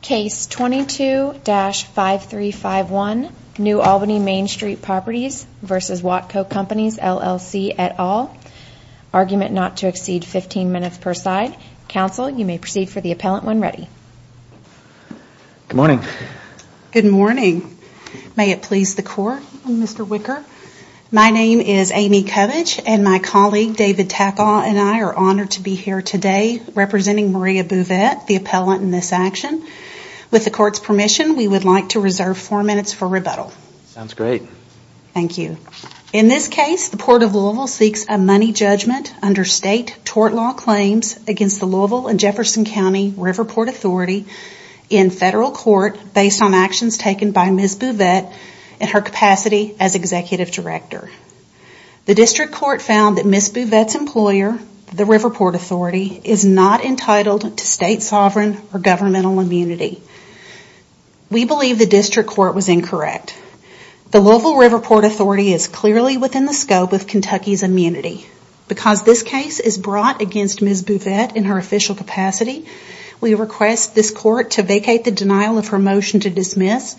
Case 22-5351, New Albany Main Street Properties v. Watco Companies LLC et al. Argument not to exceed 15 minutes per side. Counsel, you may proceed for the appellant when ready. Good morning. Good morning. May it please the court, Mr. Wicker. My name is Amy Covich and my colleague David Tackaw and I are honored to be here today representing Maria Bouvette, the appellant in this action. With the court's permission, we would like to reserve four minutes for rebuttal. Sounds great. Thank you. In this case, the Port of Louisville seeks a money judgment under state tort law claims against the Louisville and Jefferson County Riverport Authority in federal court based on actions taken by Ms. Bouvette in her capacity as Executive Director. The district court found that Ms. Bouvette's employer, the Riverport Authority, is not entitled to state sovereign or governmental immunity. We believe the district court was incorrect. The Louisville Riverport Authority is clearly within the scope of Kentucky's immunity. Because this case is brought against Ms. Bouvette in her official capacity, we request this court to vacate the denial of her motion to dismiss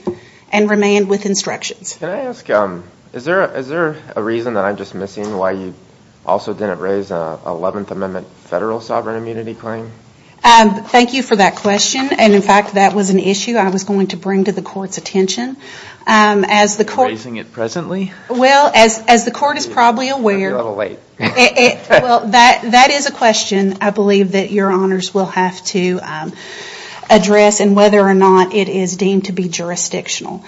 and remain with instructions. Can I ask, is there a reason that I'm dismissing why you also didn't raise an 11th Amendment federal sovereign immunity claim? Thank you for that question. And, in fact, that was an issue I was going to bring to the court's attention. Are you raising it presently? Well, as the court is probably aware, that is a question I believe that your honors will have to address and whether or not it is deemed to be jurisdictional.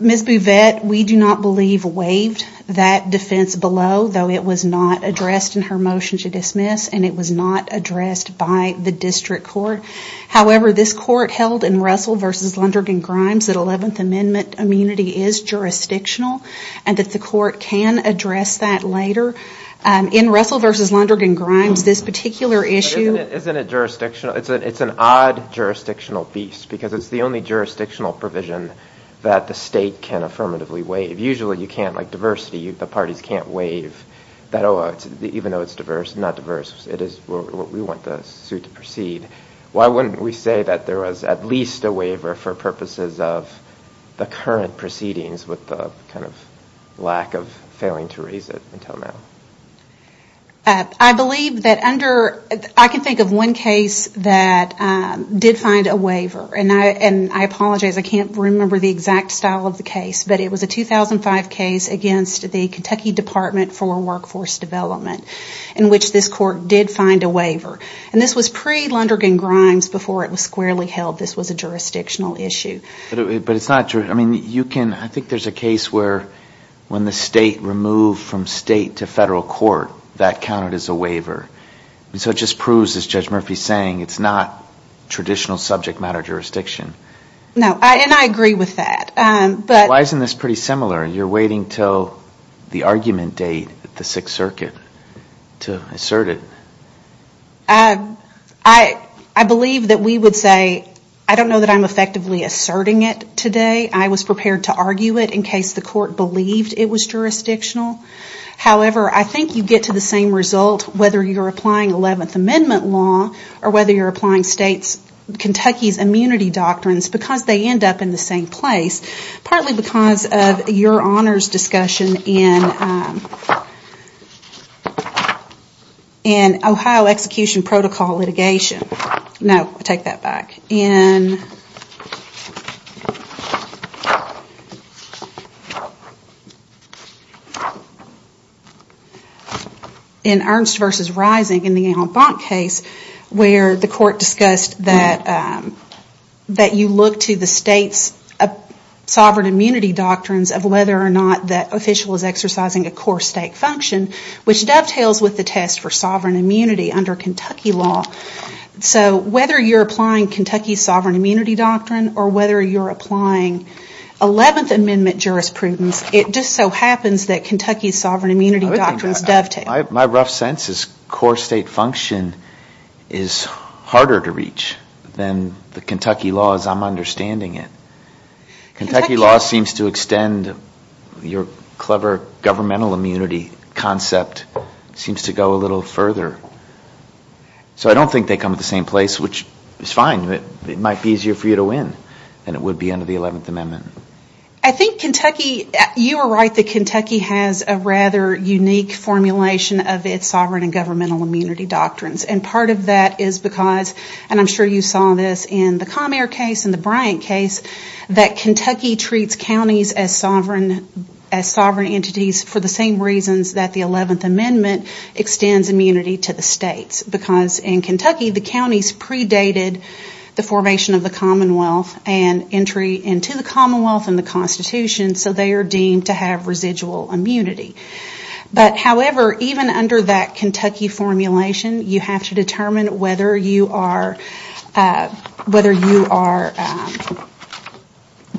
Ms. Bouvette, we do not believe, waived that defense below, though it was not addressed in her motion to dismiss and it was not addressed by the district court. However, this court held in Russell v. Lundergan-Grimes that 11th Amendment immunity is jurisdictional and that the court can address that later. In Russell v. Lundergan-Grimes, this particular issue... But isn't it jurisdictional? It's an odd jurisdictional beast because it's the only jurisdictional provision that the state can affirmatively waive. Usually you can't, like diversity, the parties can't waive that, even though it's diverse, not diverse, we want the suit to proceed. Why wouldn't we say that there was at least a waiver for purposes of the current proceedings with the kind of lack of failing to raise it until now? I believe that under... I can think of one case that did find a waiver, and I apologize, I can't remember the exact style of the case, but it was a 2005 case against the Kentucky Department for Workforce Development in which this court did find a waiver. And this was pre-Lundergan-Grimes before it was squarely held this was a jurisdictional issue. But it's not... I think there's a case where when the state removed from state to federal court, that counted as a waiver. So it just proves, as Judge Murphy's saying, it's not traditional subject matter jurisdiction. No, and I agree with that. Why isn't this pretty similar? You're waiting until the argument date at the Sixth Circuit to assert it. I believe that we would say, I don't know that I'm effectively asserting it today. I was prepared to argue it in case the court believed it was jurisdictional. However, I think you get to the same result whether you're applying 11th Amendment law or whether you're applying Kentucky's immunity doctrines, because they end up in the same place. Partly because of your honors discussion in Ohio Execution Protocol litigation. No, I take that back. In Ernst v. Rising, in the Al Bonk case, where the court discussed that you look to the state's sovereign immunity doctrines of whether or not that official is exercising a core state function, which dovetails with the test for sovereign immunity under Kentucky law. So whether you're applying Kentucky's sovereign immunity doctrine or whether you're applying 11th Amendment jurisprudence, it just so happens that Kentucky's sovereign immunity doctrines dovetail. My rough sense is core state function is harder to reach than the Kentucky law as I'm understanding it. Kentucky law seems to extend your clever governmental immunity concept, seems to go a little further. So I don't think they come to the same place, which is fine. It might be easier for you to win than it would be under the 11th Amendment. I think Kentucky, you were right that Kentucky has a rather unique formulation of its sovereign and governmental immunity doctrines. And part of that is because, and I'm sure you saw this in the Comair case and the Bryant case, that Kentucky treats counties as sovereign entities for the same reasons that the 11th Amendment extends immunity to the states. Because in Kentucky, the counties predated the formation of the Commonwealth and entry into the Commonwealth and the Constitution, so they are deemed to have residual immunity. But however, even under that Kentucky formulation, you have to determine whether you are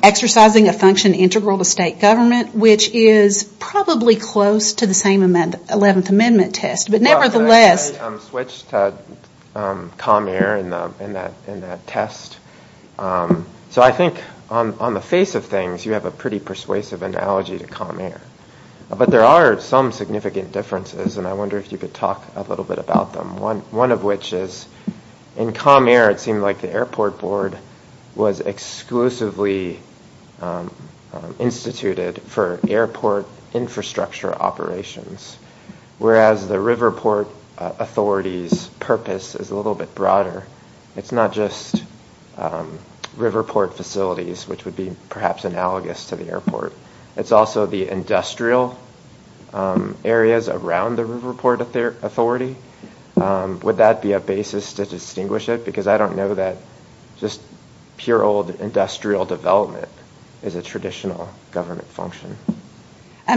exercising a function integral to state government, which is probably close to the same 11th Amendment test. I switched to Comair in that test. So I think on the face of things, you have a pretty persuasive analogy to Comair. But there are some significant differences, and I wonder if you could talk a little bit about them. One of which is in Comair, it seemed like the airport board was exclusively instituted for airport infrastructure operations. Whereas the Riverport Authority's purpose is a little bit broader. It's not just Riverport facilities, which would be perhaps analogous to the airport. It's also the industrial areas around the Riverport Authority. Would that be a basis to distinguish it? Because I don't know that just pure old industrial development is a traditional government function.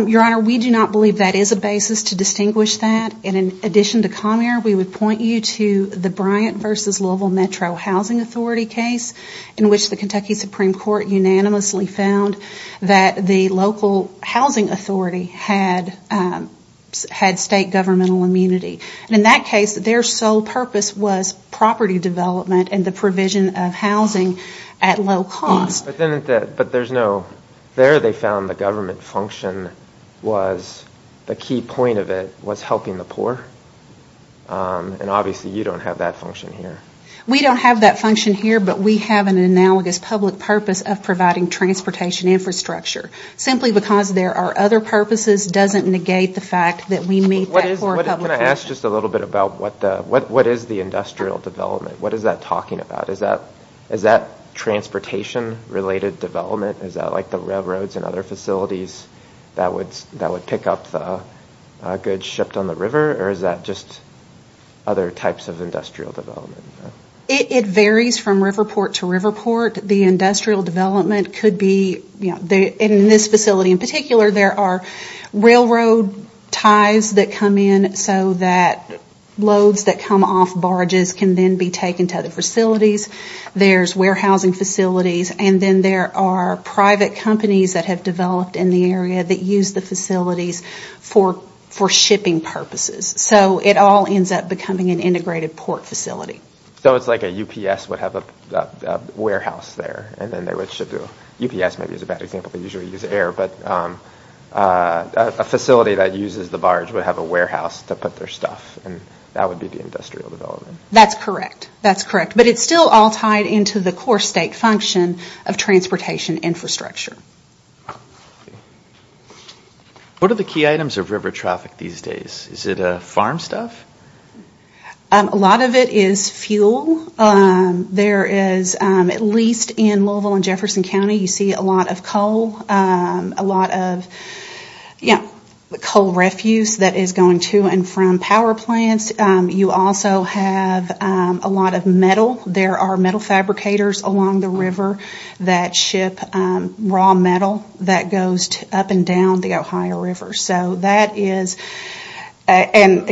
Your Honor, we do not believe that is a basis to distinguish that. In addition to Comair, we would point you to the Bryant v. Louisville Metro Housing Authority case, in which the Kentucky Supreme Court unanimously found that the local housing authority had state governmental immunity. In that case, their sole purpose was property development and the provision of housing at low cost. But there they found the government function was, the key point of it, was helping the poor. And obviously you don't have that function here. We don't have that function here, but we have an analogous public purpose of providing transportation infrastructure. Simply because there are other purposes doesn't negate the fact that we meet that core public function. Can I ask just a little bit about what is the industrial development? What is that talking about? Is that transportation related development? Is that like the railroads and other facilities that would pick up the goods shipped on the river? Or is that just other types of industrial development? It varies from river port to river port. The industrial development could be, in this facility in particular, there are railroad ties that come in so that loads that come off barges can then be taken to other facilities. There's warehousing facilities, and then there are private companies that have developed in the area that use the facilities for shipping purposes. So it all ends up becoming an integrated port facility. So it's like a UPS would have a warehouse there, and then they would ship the UPS. Maybe that's a bad example, they usually use air. But a facility that uses the barge would have a warehouse to put their stuff, and that would be the industrial development. That's correct. That's correct. But it's still all tied into the core state function of transportation infrastructure. What are the key items of river traffic these days? Is it farm stuff? A lot of it is fuel. There is, at least in Louisville and Jefferson County, you see a lot of coal, a lot of coal refuse that is going to and from power plants. You also have a lot of metal. There are metal fabricators along the river that ship raw metal that goes up and down the Ohio River. Bourbon?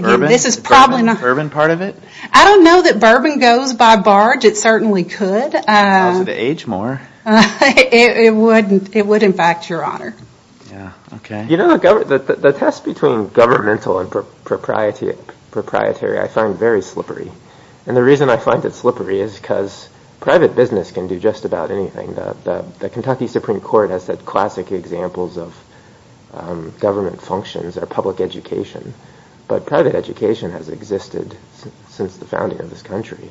Bourbon part of it? I don't know that bourbon goes by barge. It certainly could. How does it age more? It would, in fact, Your Honor. You know, the test between governmental and proprietary I find very slippery. And the reason I find it slippery is because private business can do just about anything. The Kentucky Supreme Court has said classic examples of government functions are public education. But private education has existed since the founding of this country.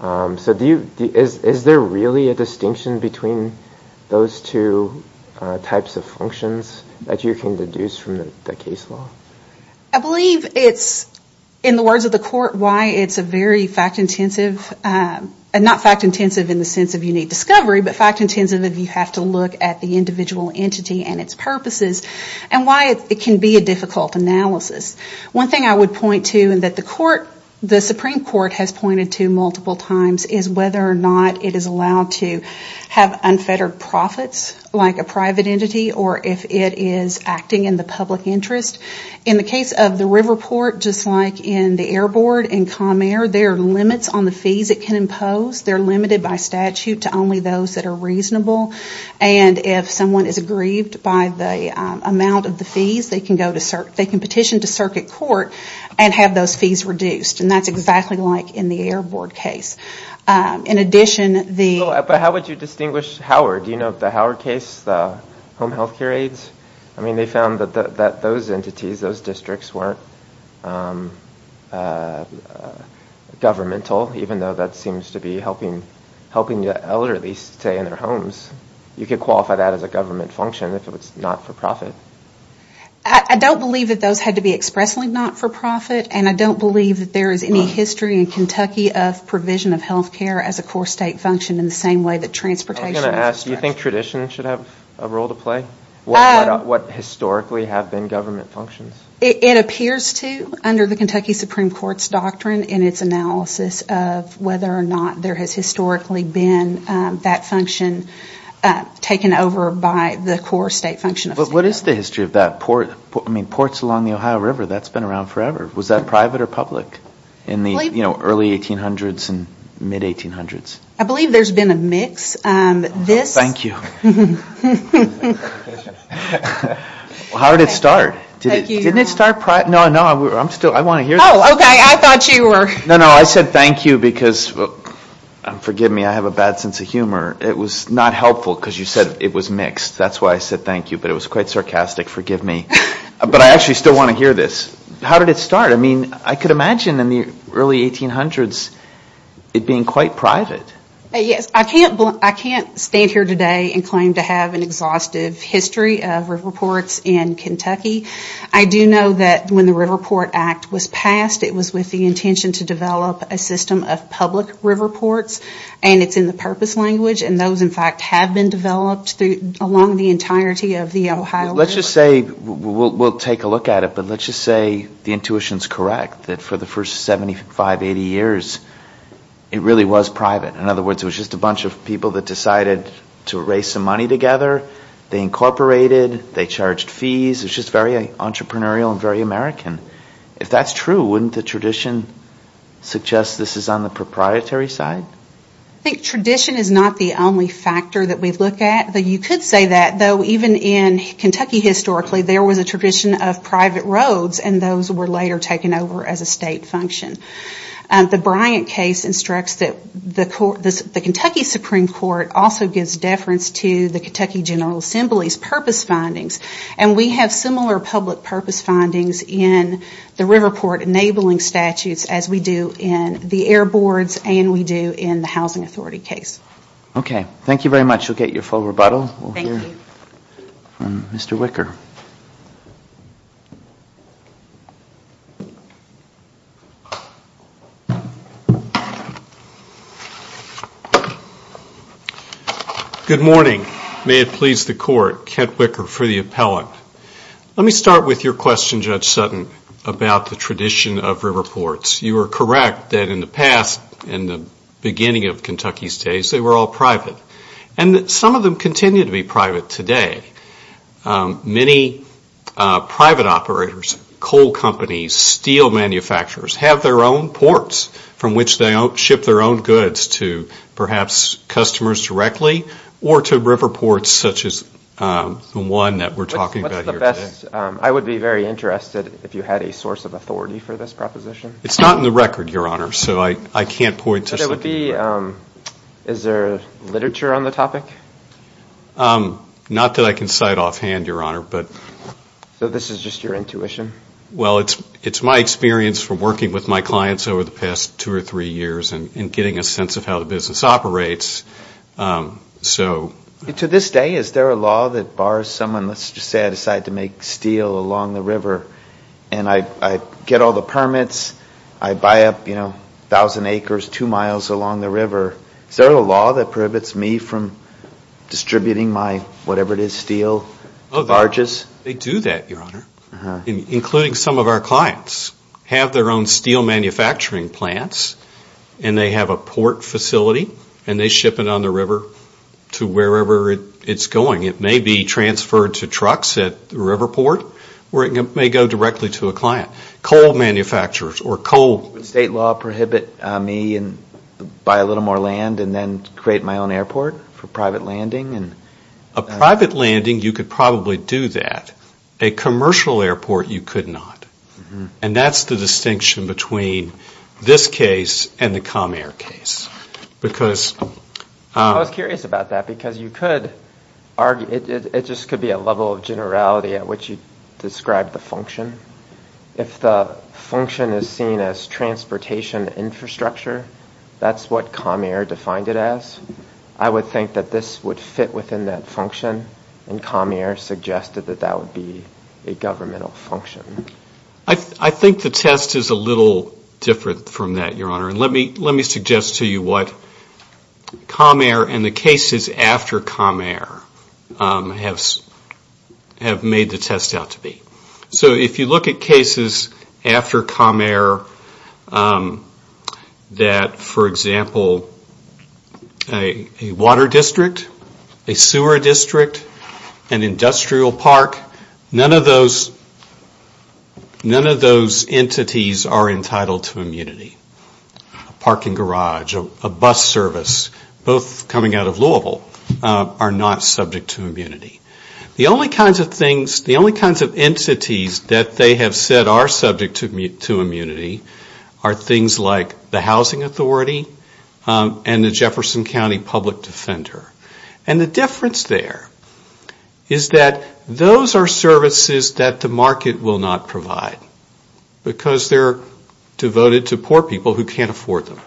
So is there really a distinction between those two types of functions that you can deduce from the case law? I believe it's, in the words of the court, why it's a very fact-intensive, not fact-intensive in the sense of unique discovery, but fact-intensive if you have to look at the individual entity and its purposes, and why it can be a difficult analysis. One thing I would point to that the Supreme Court has pointed to multiple times is whether or not it is allowed to have unfettered profits like a private entity or if it is acting in the public interest. In the case of the river port, just like in the airboard in Comair, there are limits on the fees it can impose. They're limited by statute to only those that are reasonable. And if someone is aggrieved by the amount of the fees, they can petition to circuit court and have those fees reduced. And that's exactly like in the airboard case. In addition, the... But how would you distinguish Howard? Do you know the Howard case, the home health care aides? I mean, they found that those entities, those districts, weren't governmental, even though that seems to be helping the elderly stay in their homes. You could qualify that as a government function if it was not-for-profit. I don't believe that those had to be expressly not-for-profit, and I don't believe that there is any history in Kentucky of provision of health care as a core state function in the same way that transportation... I was going to ask, do you think tradition should have a role to play? What historically have been government functions? It appears to under the Kentucky Supreme Court's doctrine in its analysis of whether or not there has historically been that function taken over by the core state function. But what is the history of that port? I mean, ports along the Ohio River, that's been around forever. Was that private or public in the early 1800s and mid-1800s? I believe there's been a mix. Thank you. How did it start? Thank you. Didn't it start private? No, no, I want to hear this. Oh, okay, I thought you were... No, no, I said thank you because, forgive me, I have a bad sense of humor. It was not helpful because you said it was mixed. That's why I said thank you, but it was quite sarcastic. Forgive me. But I actually still want to hear this. How did it start? I mean, I could imagine in the early 1800s it being quite private. Yes, I can't stand here today and claim to have an exhaustive history of river ports in Kentucky. I do know that when the River Port Act was passed, it was with the intention to develop a system of public river ports, and it's in the purpose language, and those, in fact, have been developed along the entirety of the Ohio River. Let's just say, we'll take a look at it, but let's just say the intuition is correct, that for the first 75, 80 years, it really was private. In other words, it was just a bunch of people that decided to raise some money together. They incorporated. They charged fees. It was just very entrepreneurial and very American. If that's true, wouldn't the tradition suggest this is on the proprietary side? I think tradition is not the only factor that we look at. You could say that, though, even in Kentucky, historically, there was a tradition of private roads, and those were later taken over as a state function. The Bryant case instructs that the Kentucky Supreme Court also gives deference to the Kentucky General Assembly's purpose findings, and we have similar public purpose findings in the river port enabling statutes as we do in the air boards and we do in the Housing Authority case. Okay. Thank you very much. We'll get your full rebuttal. Thank you. Mr. Wicker. Good morning. May it please the Court. Kent Wicker for the appellant. Let me start with your question, Judge Sutton, about the tradition of river ports. You are correct that in the past, in the beginning of Kentucky's days, they were all private, and some of them continue to be private today. Many private operators, coal companies, steel manufacturers have their own ports from which they ship their own goods to perhaps customers directly or to river ports such as the one that we're talking about here today. What's the best? I would be very interested if you had a source of authority for this proposition. It's not in the record, Your Honor, so I can't point to something. Is there literature on the topic? Not that I can cite offhand, Your Honor. So this is just your intuition? Well, it's my experience from working with my clients over the past two or three years and getting a sense of how the business operates. To this day, is there a law that bars someone, let's just say I decide to make steel along the river, and I get all the permits, I buy up 1,000 acres two miles along the river, is there a law that prohibits me from distributing my whatever it is, steel, to barges? They do that, Your Honor, including some of our clients. They have their own steel manufacturing plants, and they have a port facility, and they ship it on the river to wherever it's going. It may be transferred to trucks at the river port, or it may go directly to a client. Coal manufacturers or coal. Would state law prohibit me and buy a little more land and then create my own airport for private landing? A private landing, you could probably do that. A commercial airport, you could not. And that's the distinction between this case and the Comair case. I was curious about that, because you could argue, it just could be a level of generality at which you describe the function. If the function is seen as transportation infrastructure, that's what Comair defined it as, I would think that this would fit within that function, and Comair suggested that that would be a governmental function. I think the test is a little different from that, Your Honor. And let me suggest to you what Comair and the cases after Comair have made the test out to be. So if you look at cases after Comair that, for example, a water district, a sewer district, an industrial park, none of those entities are entitled to immunity. A parking garage, a bus service, both coming out of Louisville, are not subject to immunity. The only kinds of things, the only kinds of entities that they have said are subject to immunity are things like the housing authority and the Jefferson County public defender. And the difference there is that those are services that the market will not provide, because they're devoted to poor people who can't afford them.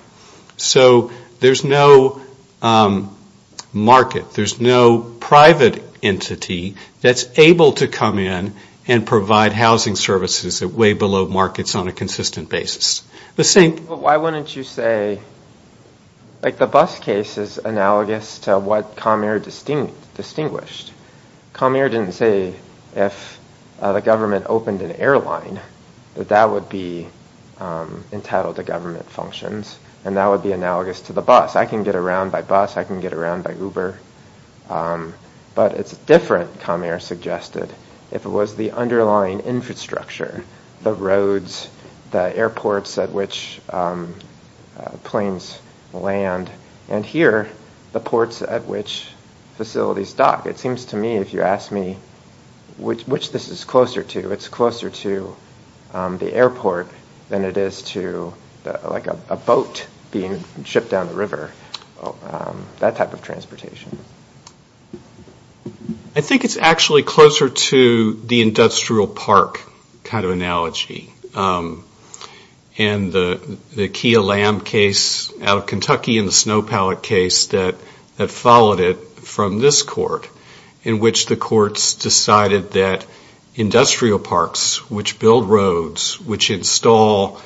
So there's no market, there's no private entity that's able to come in and provide housing services way below markets on a consistent basis. Why wouldn't you say, like the bus case is analogous to what Comair distinguished. Comair didn't say if the government opened an airline that that would be entitled to government functions, and that would be analogous to the bus. I can get around by bus, I can get around by Uber. But it's different, Comair suggested, if it was the underlying infrastructure, the roads, the airports at which planes land, and here the ports at which facilities dock. It seems to me, if you ask me, which this is closer to, it's closer to the airport than it is to like a boat being shipped down the river, that type of transportation. I think it's actually closer to the industrial park kind of analogy. And the Kia Lamb case out of Kentucky and the Snow Pallet case that followed it from this court, in which the courts decided that industrial parks, which build roads, which install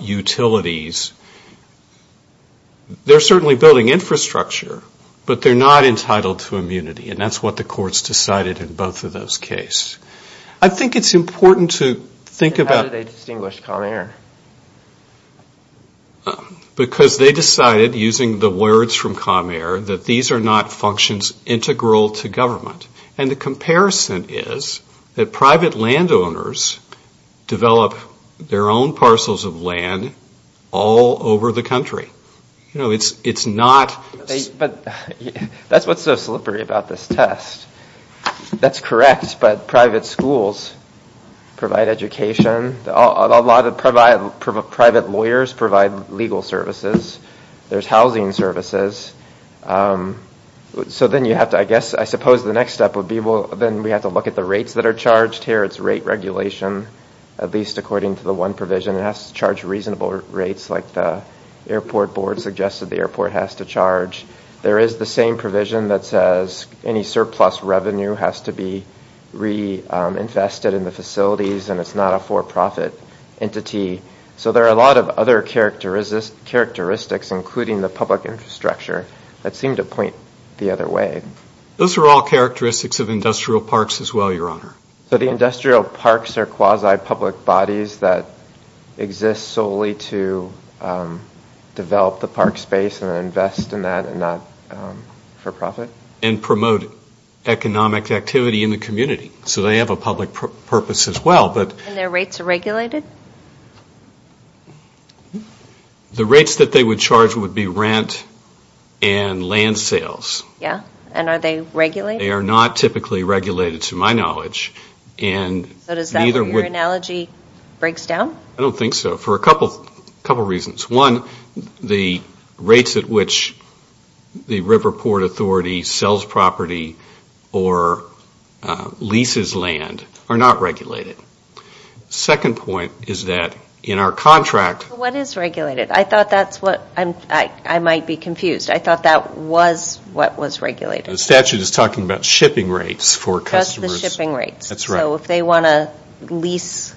utilities, they're certainly building infrastructure, but they're not entitled to immunity. And that's what the courts decided in both of those cases. I think it's important to think about... How did they distinguish Comair? Because they decided, using the words from Comair, that these are not functions integral to government. And the comparison is that private landowners develop their own parcels of land all over the country. It's not... That's what's so slippery about this test. That's correct, but private schools provide education. A lot of private lawyers provide legal services. There's housing services. So then you have to, I guess, I suppose the next step would be, well, then we have to look at the rates that are charged here. It's rate regulation, at least according to the one provision. It has to charge reasonable rates like the airport board suggested the airport has to charge. There is the same provision that says any surplus revenue has to be reinvested in the facilities, and it's not a for-profit entity. So there are a lot of other characteristics, including the public infrastructure, that seem to point the other way. Those are all characteristics of industrial parks as well, Your Honor. So the industrial parks are quasi-public bodies that exist solely to develop the park space and invest in that and not for profit? And promote economic activity in the community. So they have a public purpose as well, but... And their rates are regulated? The rates that they would charge would be rent and land sales. Yeah, and are they regulated? They are not typically regulated, to my knowledge. So does that mean your analogy breaks down? I don't think so, for a couple reasons. One, the rates at which the river port authority sells property or leases land are not regulated. Second point is that in our contract... What is regulated? I thought that's what... I might be confused. I thought that was what was regulated. The statute is talking about shipping rates for customers. That's the shipping rates. So if they want to lease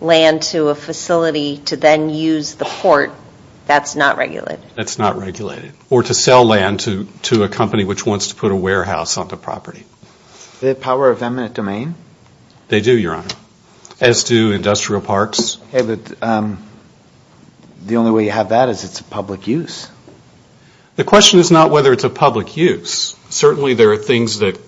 land to a facility to then use the port, that's not regulated? That's not regulated. Or to sell land to a company which wants to put a warehouse on the property. Do they have power of eminent domain? They do, Your Honor, as do industrial parks. Okay, but the only way you have that is it's a public use. The question is not whether it's a public use. Certainly there are things that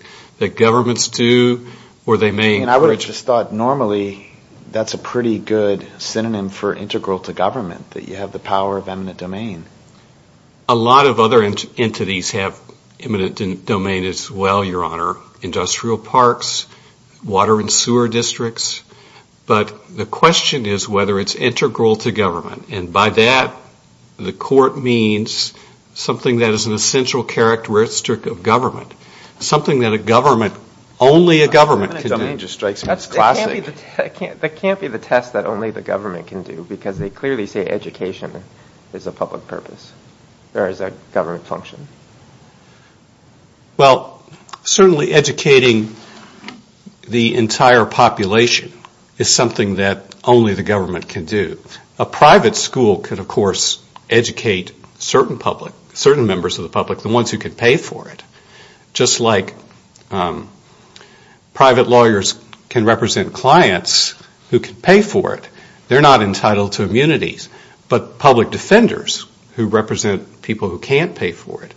governments do where they may... And I would have just thought normally that's a pretty good synonym for integral to government, that you have the power of eminent domain. A lot of other entities have eminent domain as well, Your Honor. Industrial parks, water and sewer districts. But the question is whether it's integral to government. And by that, the court means something that is an essential characteristic of government. Something that a government, only a government can do. Eminent domain just strikes me as classic. That can't be the test that only the government can do, because they clearly say education is a public purpose. There is a government function. Well, certainly educating the entire population is something that only the government can do. A private school could, of course, educate certain members of the public, the ones who can pay for it. Just like private lawyers can represent clients who can pay for it. They're not entitled to immunities. But public defenders who represent people who can't pay for it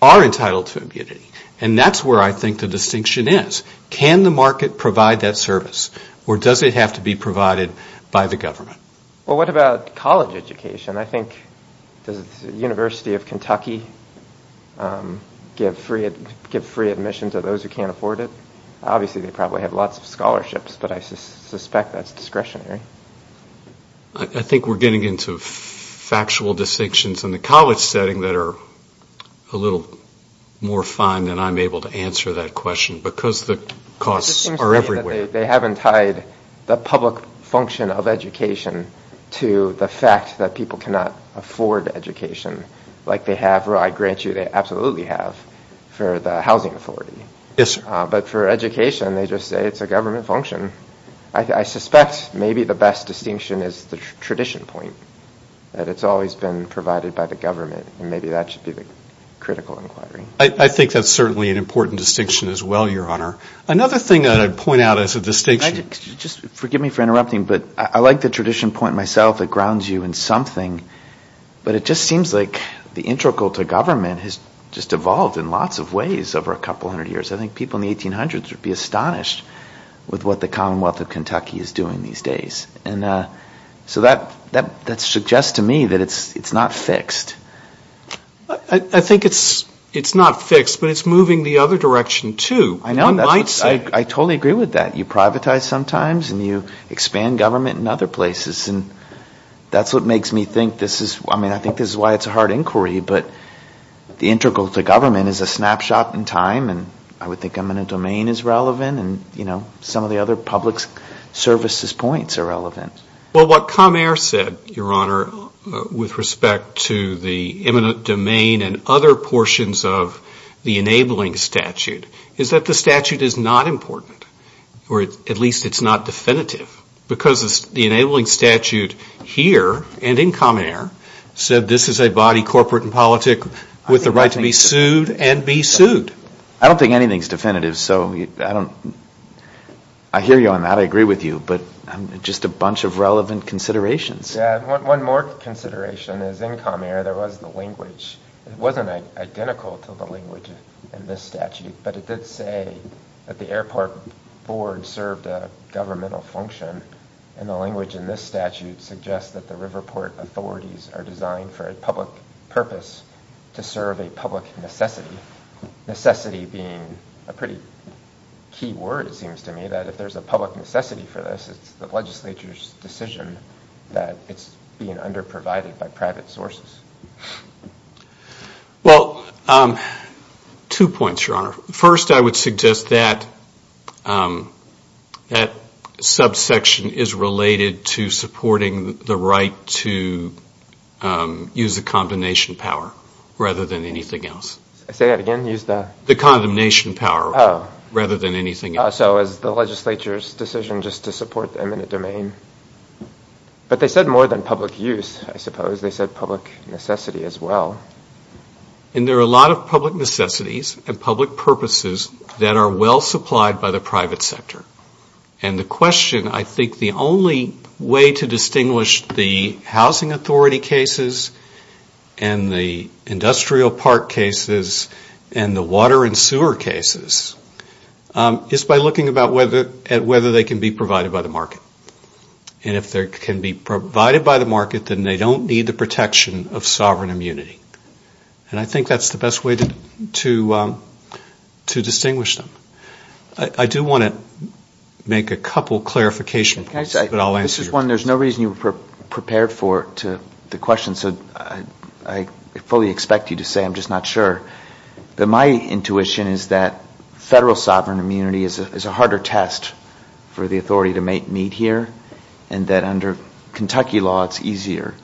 are entitled to immunity. And that's where I think the distinction is. Can the market provide that service? Or does it have to be provided by the government? Well, what about college education? I think, does the University of Kentucky give free admission to those who can't afford it? Obviously, they probably have lots of scholarships, but I suspect that's discretionary. I think we're getting into factual distinctions in the college setting that are a little more fine than I'm able to answer that question, because the costs are everywhere. It just seems to me that they haven't tied the public function of education to the fact that people cannot afford education like they have, or I grant you they absolutely have, for the housing authority. But for education, they just say it's a government function. I suspect maybe the best distinction is the tradition point, that it's always been provided by the government, and maybe that should be the critical inquiry. I think that's certainly an important distinction as well, Your Honor. Another thing that I'd point out as a distinction... It's a distinction point myself that grounds you in something, but it just seems like the integral to government has just evolved in lots of ways over a couple hundred years. I think people in the 1800s would be astonished with what the Commonwealth of Kentucky is doing these days. So that suggests to me that it's not fixed. I think it's not fixed, but it's moving the other direction too. I totally agree with that. You privatize sometimes, and you expand government in other places, and that's what makes me think this is... I mean, I think this is why it's a hard inquiry, but the integral to government is a snapshot in time, and I would think eminent domain is relevant, and some of the other public services points are relevant. Well, what Comair said, Your Honor, with respect to the eminent domain and other portions of the enabling statute, is that the statute is not important, or at least it's not definitive, because the enabling statute here and in Comair said this is a body, corporate and politic, with the right to be sued and be sued. I don't think anything's definitive, so I don't... I hear you on that, I agree with you, but just a bunch of relevant considerations. Yeah, one more consideration is in Comair there was the language. It wasn't identical to the language in this statute, but it did say that the airport board served a governmental function, and the language in this statute suggests that the Riverport authorities are designed for a public purpose, to serve a public necessity. Necessity being a pretty key word, it seems to me, that if there's a public necessity for this, it's the legislature's decision that it's being under-provided by private sources. Well, two points, Your Honor. First, I would suggest that that subsection is related to supporting the right to use the condemnation power, rather than anything else. Say that again? Use the... The condemnation power, rather than anything else. So is the legislature's decision just to support the eminent domain? But they said more than public use, I suppose. They said public necessity as well. And there are a lot of public necessities and public purposes that are well supplied by the private sector. And the question, I think the only way to distinguish the housing authority cases and the industrial park cases and the water and sewer cases is by looking at whether they can be provided by the market. And if they can be provided by the market, then they don't need the protection of sovereign immunity. And I think that's the best way to distinguish them. I do want to make a couple of clarification points, but I'll answer your question. There's no reason you were prepared for the question, so I fully expect you to say, I'm just not sure. My intuition is that federal sovereign immunity is a harder test for the authority to meet here, and that under Kentucky law it's easier.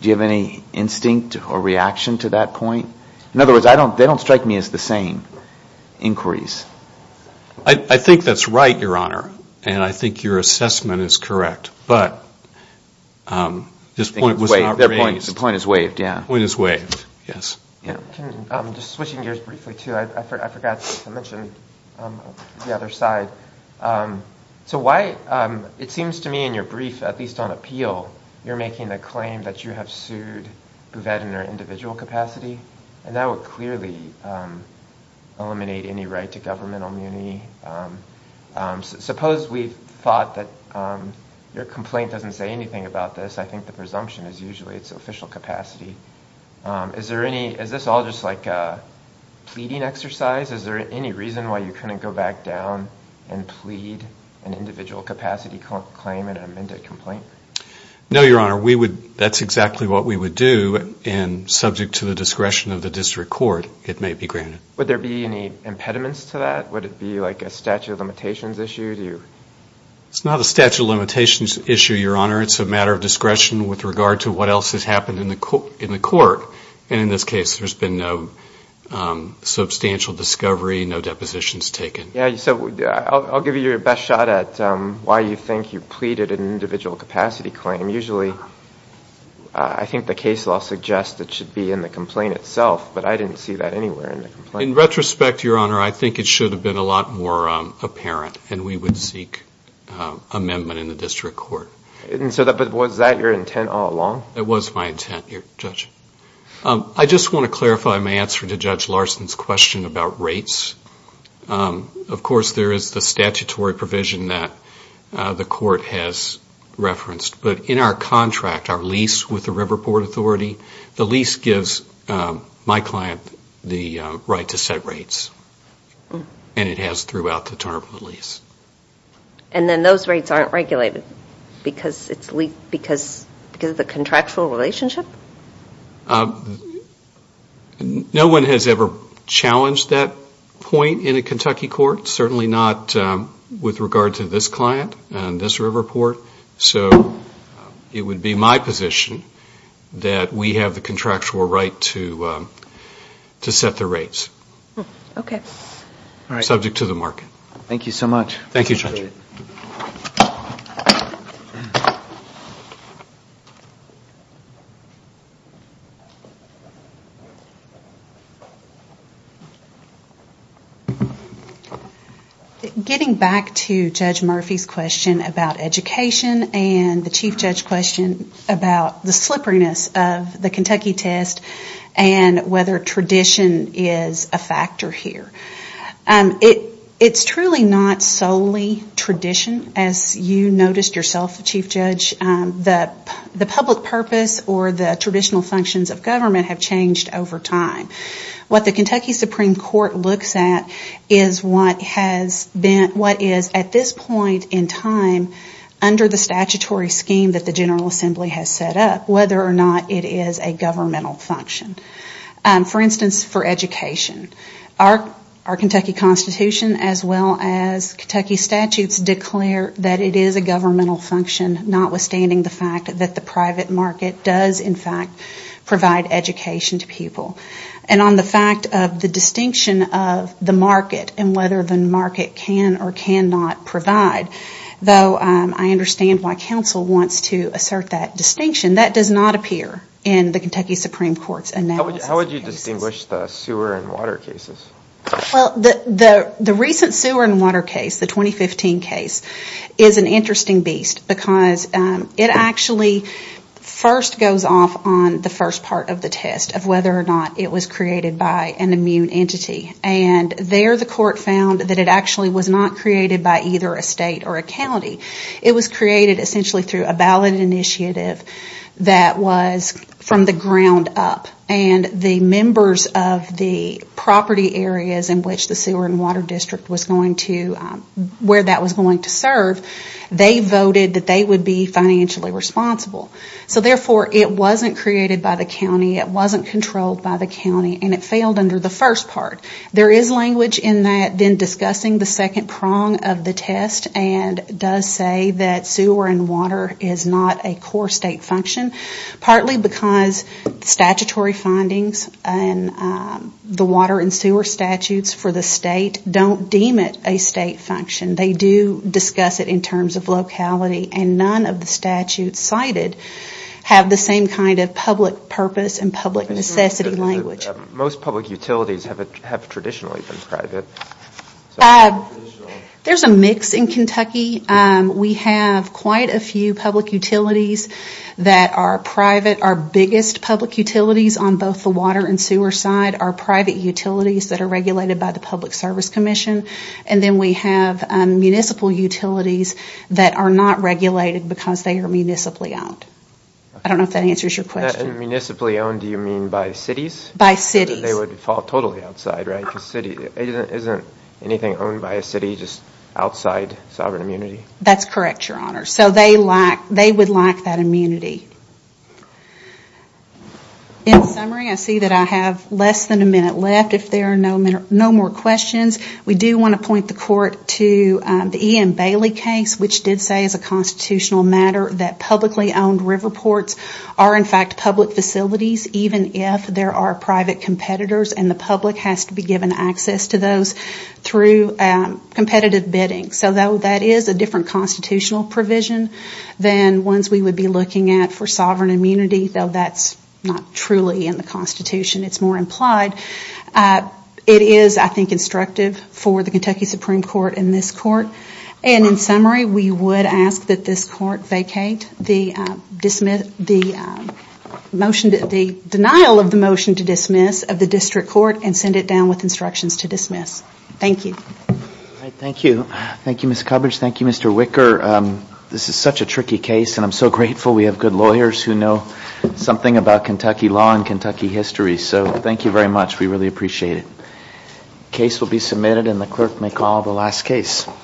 Do you have any instinct or reaction to that point? In other words, they don't strike me as the same inquiries. I think that's right, Your Honor. And I think your assessment is correct. But this point was not raised. The point is waived, yeah. I'm just switching gears briefly, too. I forgot to mention the other side. So why, it seems to me in your brief, at least on appeal, you're making the claim that you have sued Bouvet in her individual capacity, and that would clearly eliminate any right to governmental immunity. Suppose we thought that your complaint doesn't say anything about this. I think the presumption is usually it's official capacity. Is this all just like a pleading exercise? Is there any reason why you couldn't go back down and plead an individual capacity claim in an amended complaint? No, Your Honor. That's exactly what we would do, and subject to the discretion of the district court, it may be granted. Would there be any impediments to that? Would it be like a statute of limitations issue? It's not a statute of limitations issue, Your Honor. It's a matter of discretion with regard to what else has happened in the court. And in this case, there's been no substantial discovery, no depositions taken. Yeah, so I'll give you your best shot at why you think you pleaded an individual capacity claim. Usually, I think the case law suggests it should be in the complaint itself, but I didn't see that anywhere in the complaint. In retrospect, Your Honor, I think it should have been a lot more apparent, and we would seek amendment in the district court. But was that your intent all along? It was my intent, Judge. I just want to clarify my answer to Judge Larson's question about rates. Of course, there is the statutory provision that the court has referenced, but in our contract, our lease with the Riverport Authority, the lease gives my client the right to set rates, and it has throughout the term of the lease. And then those rates aren't regulated because of the contractual relationship? No one has ever challenged that point in a Kentucky court, certainly not with regard to this client and this Riverport. So it would be my position that we have the contractual right to set the rates. Okay. Subject to the market. Thank you so much. Getting back to Judge Murphy's question about education and the Chief Judge's question about the slipperiness of the Kentucky test and whether tradition is a factor here. It's truly not solely tradition, as you noticed yourself, Chief Judge. The public purpose or the traditional functions of government have changed over time. What the Kentucky Supreme Court looks at is what is at this point in time under the statutory scheme that the General Assembly has set up, whether or not it is a governmental function. For instance, for education. Our Kentucky Constitution as well as Kentucky statutes declare that it is a governmental function, notwithstanding the fact that the private market does in fact provide education to people. And on the fact of the distinction of the market and whether the market can or cannot provide, though I understand why counsel wants to assert that distinction, that does not appear in the Kentucky Supreme Court's analysis. How would you distinguish the sewer and water cases? Well, the recent sewer and water case, the 2015 case, is an interesting beast because it actually first goes off on the first part of the test of whether or not it was created by an immune entity. And there the court found that it actually was not created by either a state or a county. It was created essentially through a ballot initiative that was from the ground up. And the members of the property areas in which the sewer and water district was going to, where that was going to serve, they voted that they would be financially responsible. So therefore, it wasn't created by the county, it wasn't controlled by the county, and it failed under the first part. There is language in that then discussing the second prong of the test and does say that sewer and water is not a core state function, partly because statutory findings and the water and sewer statutes for the state don't deem it a state function. They do discuss it in terms of locality and none of the statutes cited have the same kind of public purpose and public necessity language. Most public utilities have traditionally been private. There's a mix in Kentucky. We have quite a few public utilities that are private. Our biggest public utilities on both the water and sewer side are private utilities that are regulated by the Public Service Commission. And then we have municipal utilities that are not regulated because they are municipally owned. I don't know if that answers your question. And by municipally owned, do you mean by cities? By cities. They would fall totally outside, right? Isn't anything owned by a city just outside sovereign immunity? That's correct, Your Honor. So they would lack that immunity. In summary, I see that I have less than a minute left. If there are no more questions, we do want to point the court to the Ian Bailey case which did say as a constitutional matter that publicly owned river ports are in fact public facilities even if there are private competitors and the public has to be given access to those through competitive bidding. So that is a different constitutional provision than ones we would be looking at for sovereign immunity though that's not truly in the Constitution. It's more implied. It is, I think, instructive for the Kentucky Supreme Court and this Court. And in summary, we would ask that this Court vacate the denial of the motion to dismiss of the District Court and send it down with instructions to dismiss. Thank you. Thank you, Ms. Cubbage. Thank you, Mr. Wicker. This is such a tricky case and I'm so grateful we have good lawyers who know something about Kentucky law and Kentucky history. So thank you very much. We really appreciate it. Case will be submitted and the clerk may call the last case.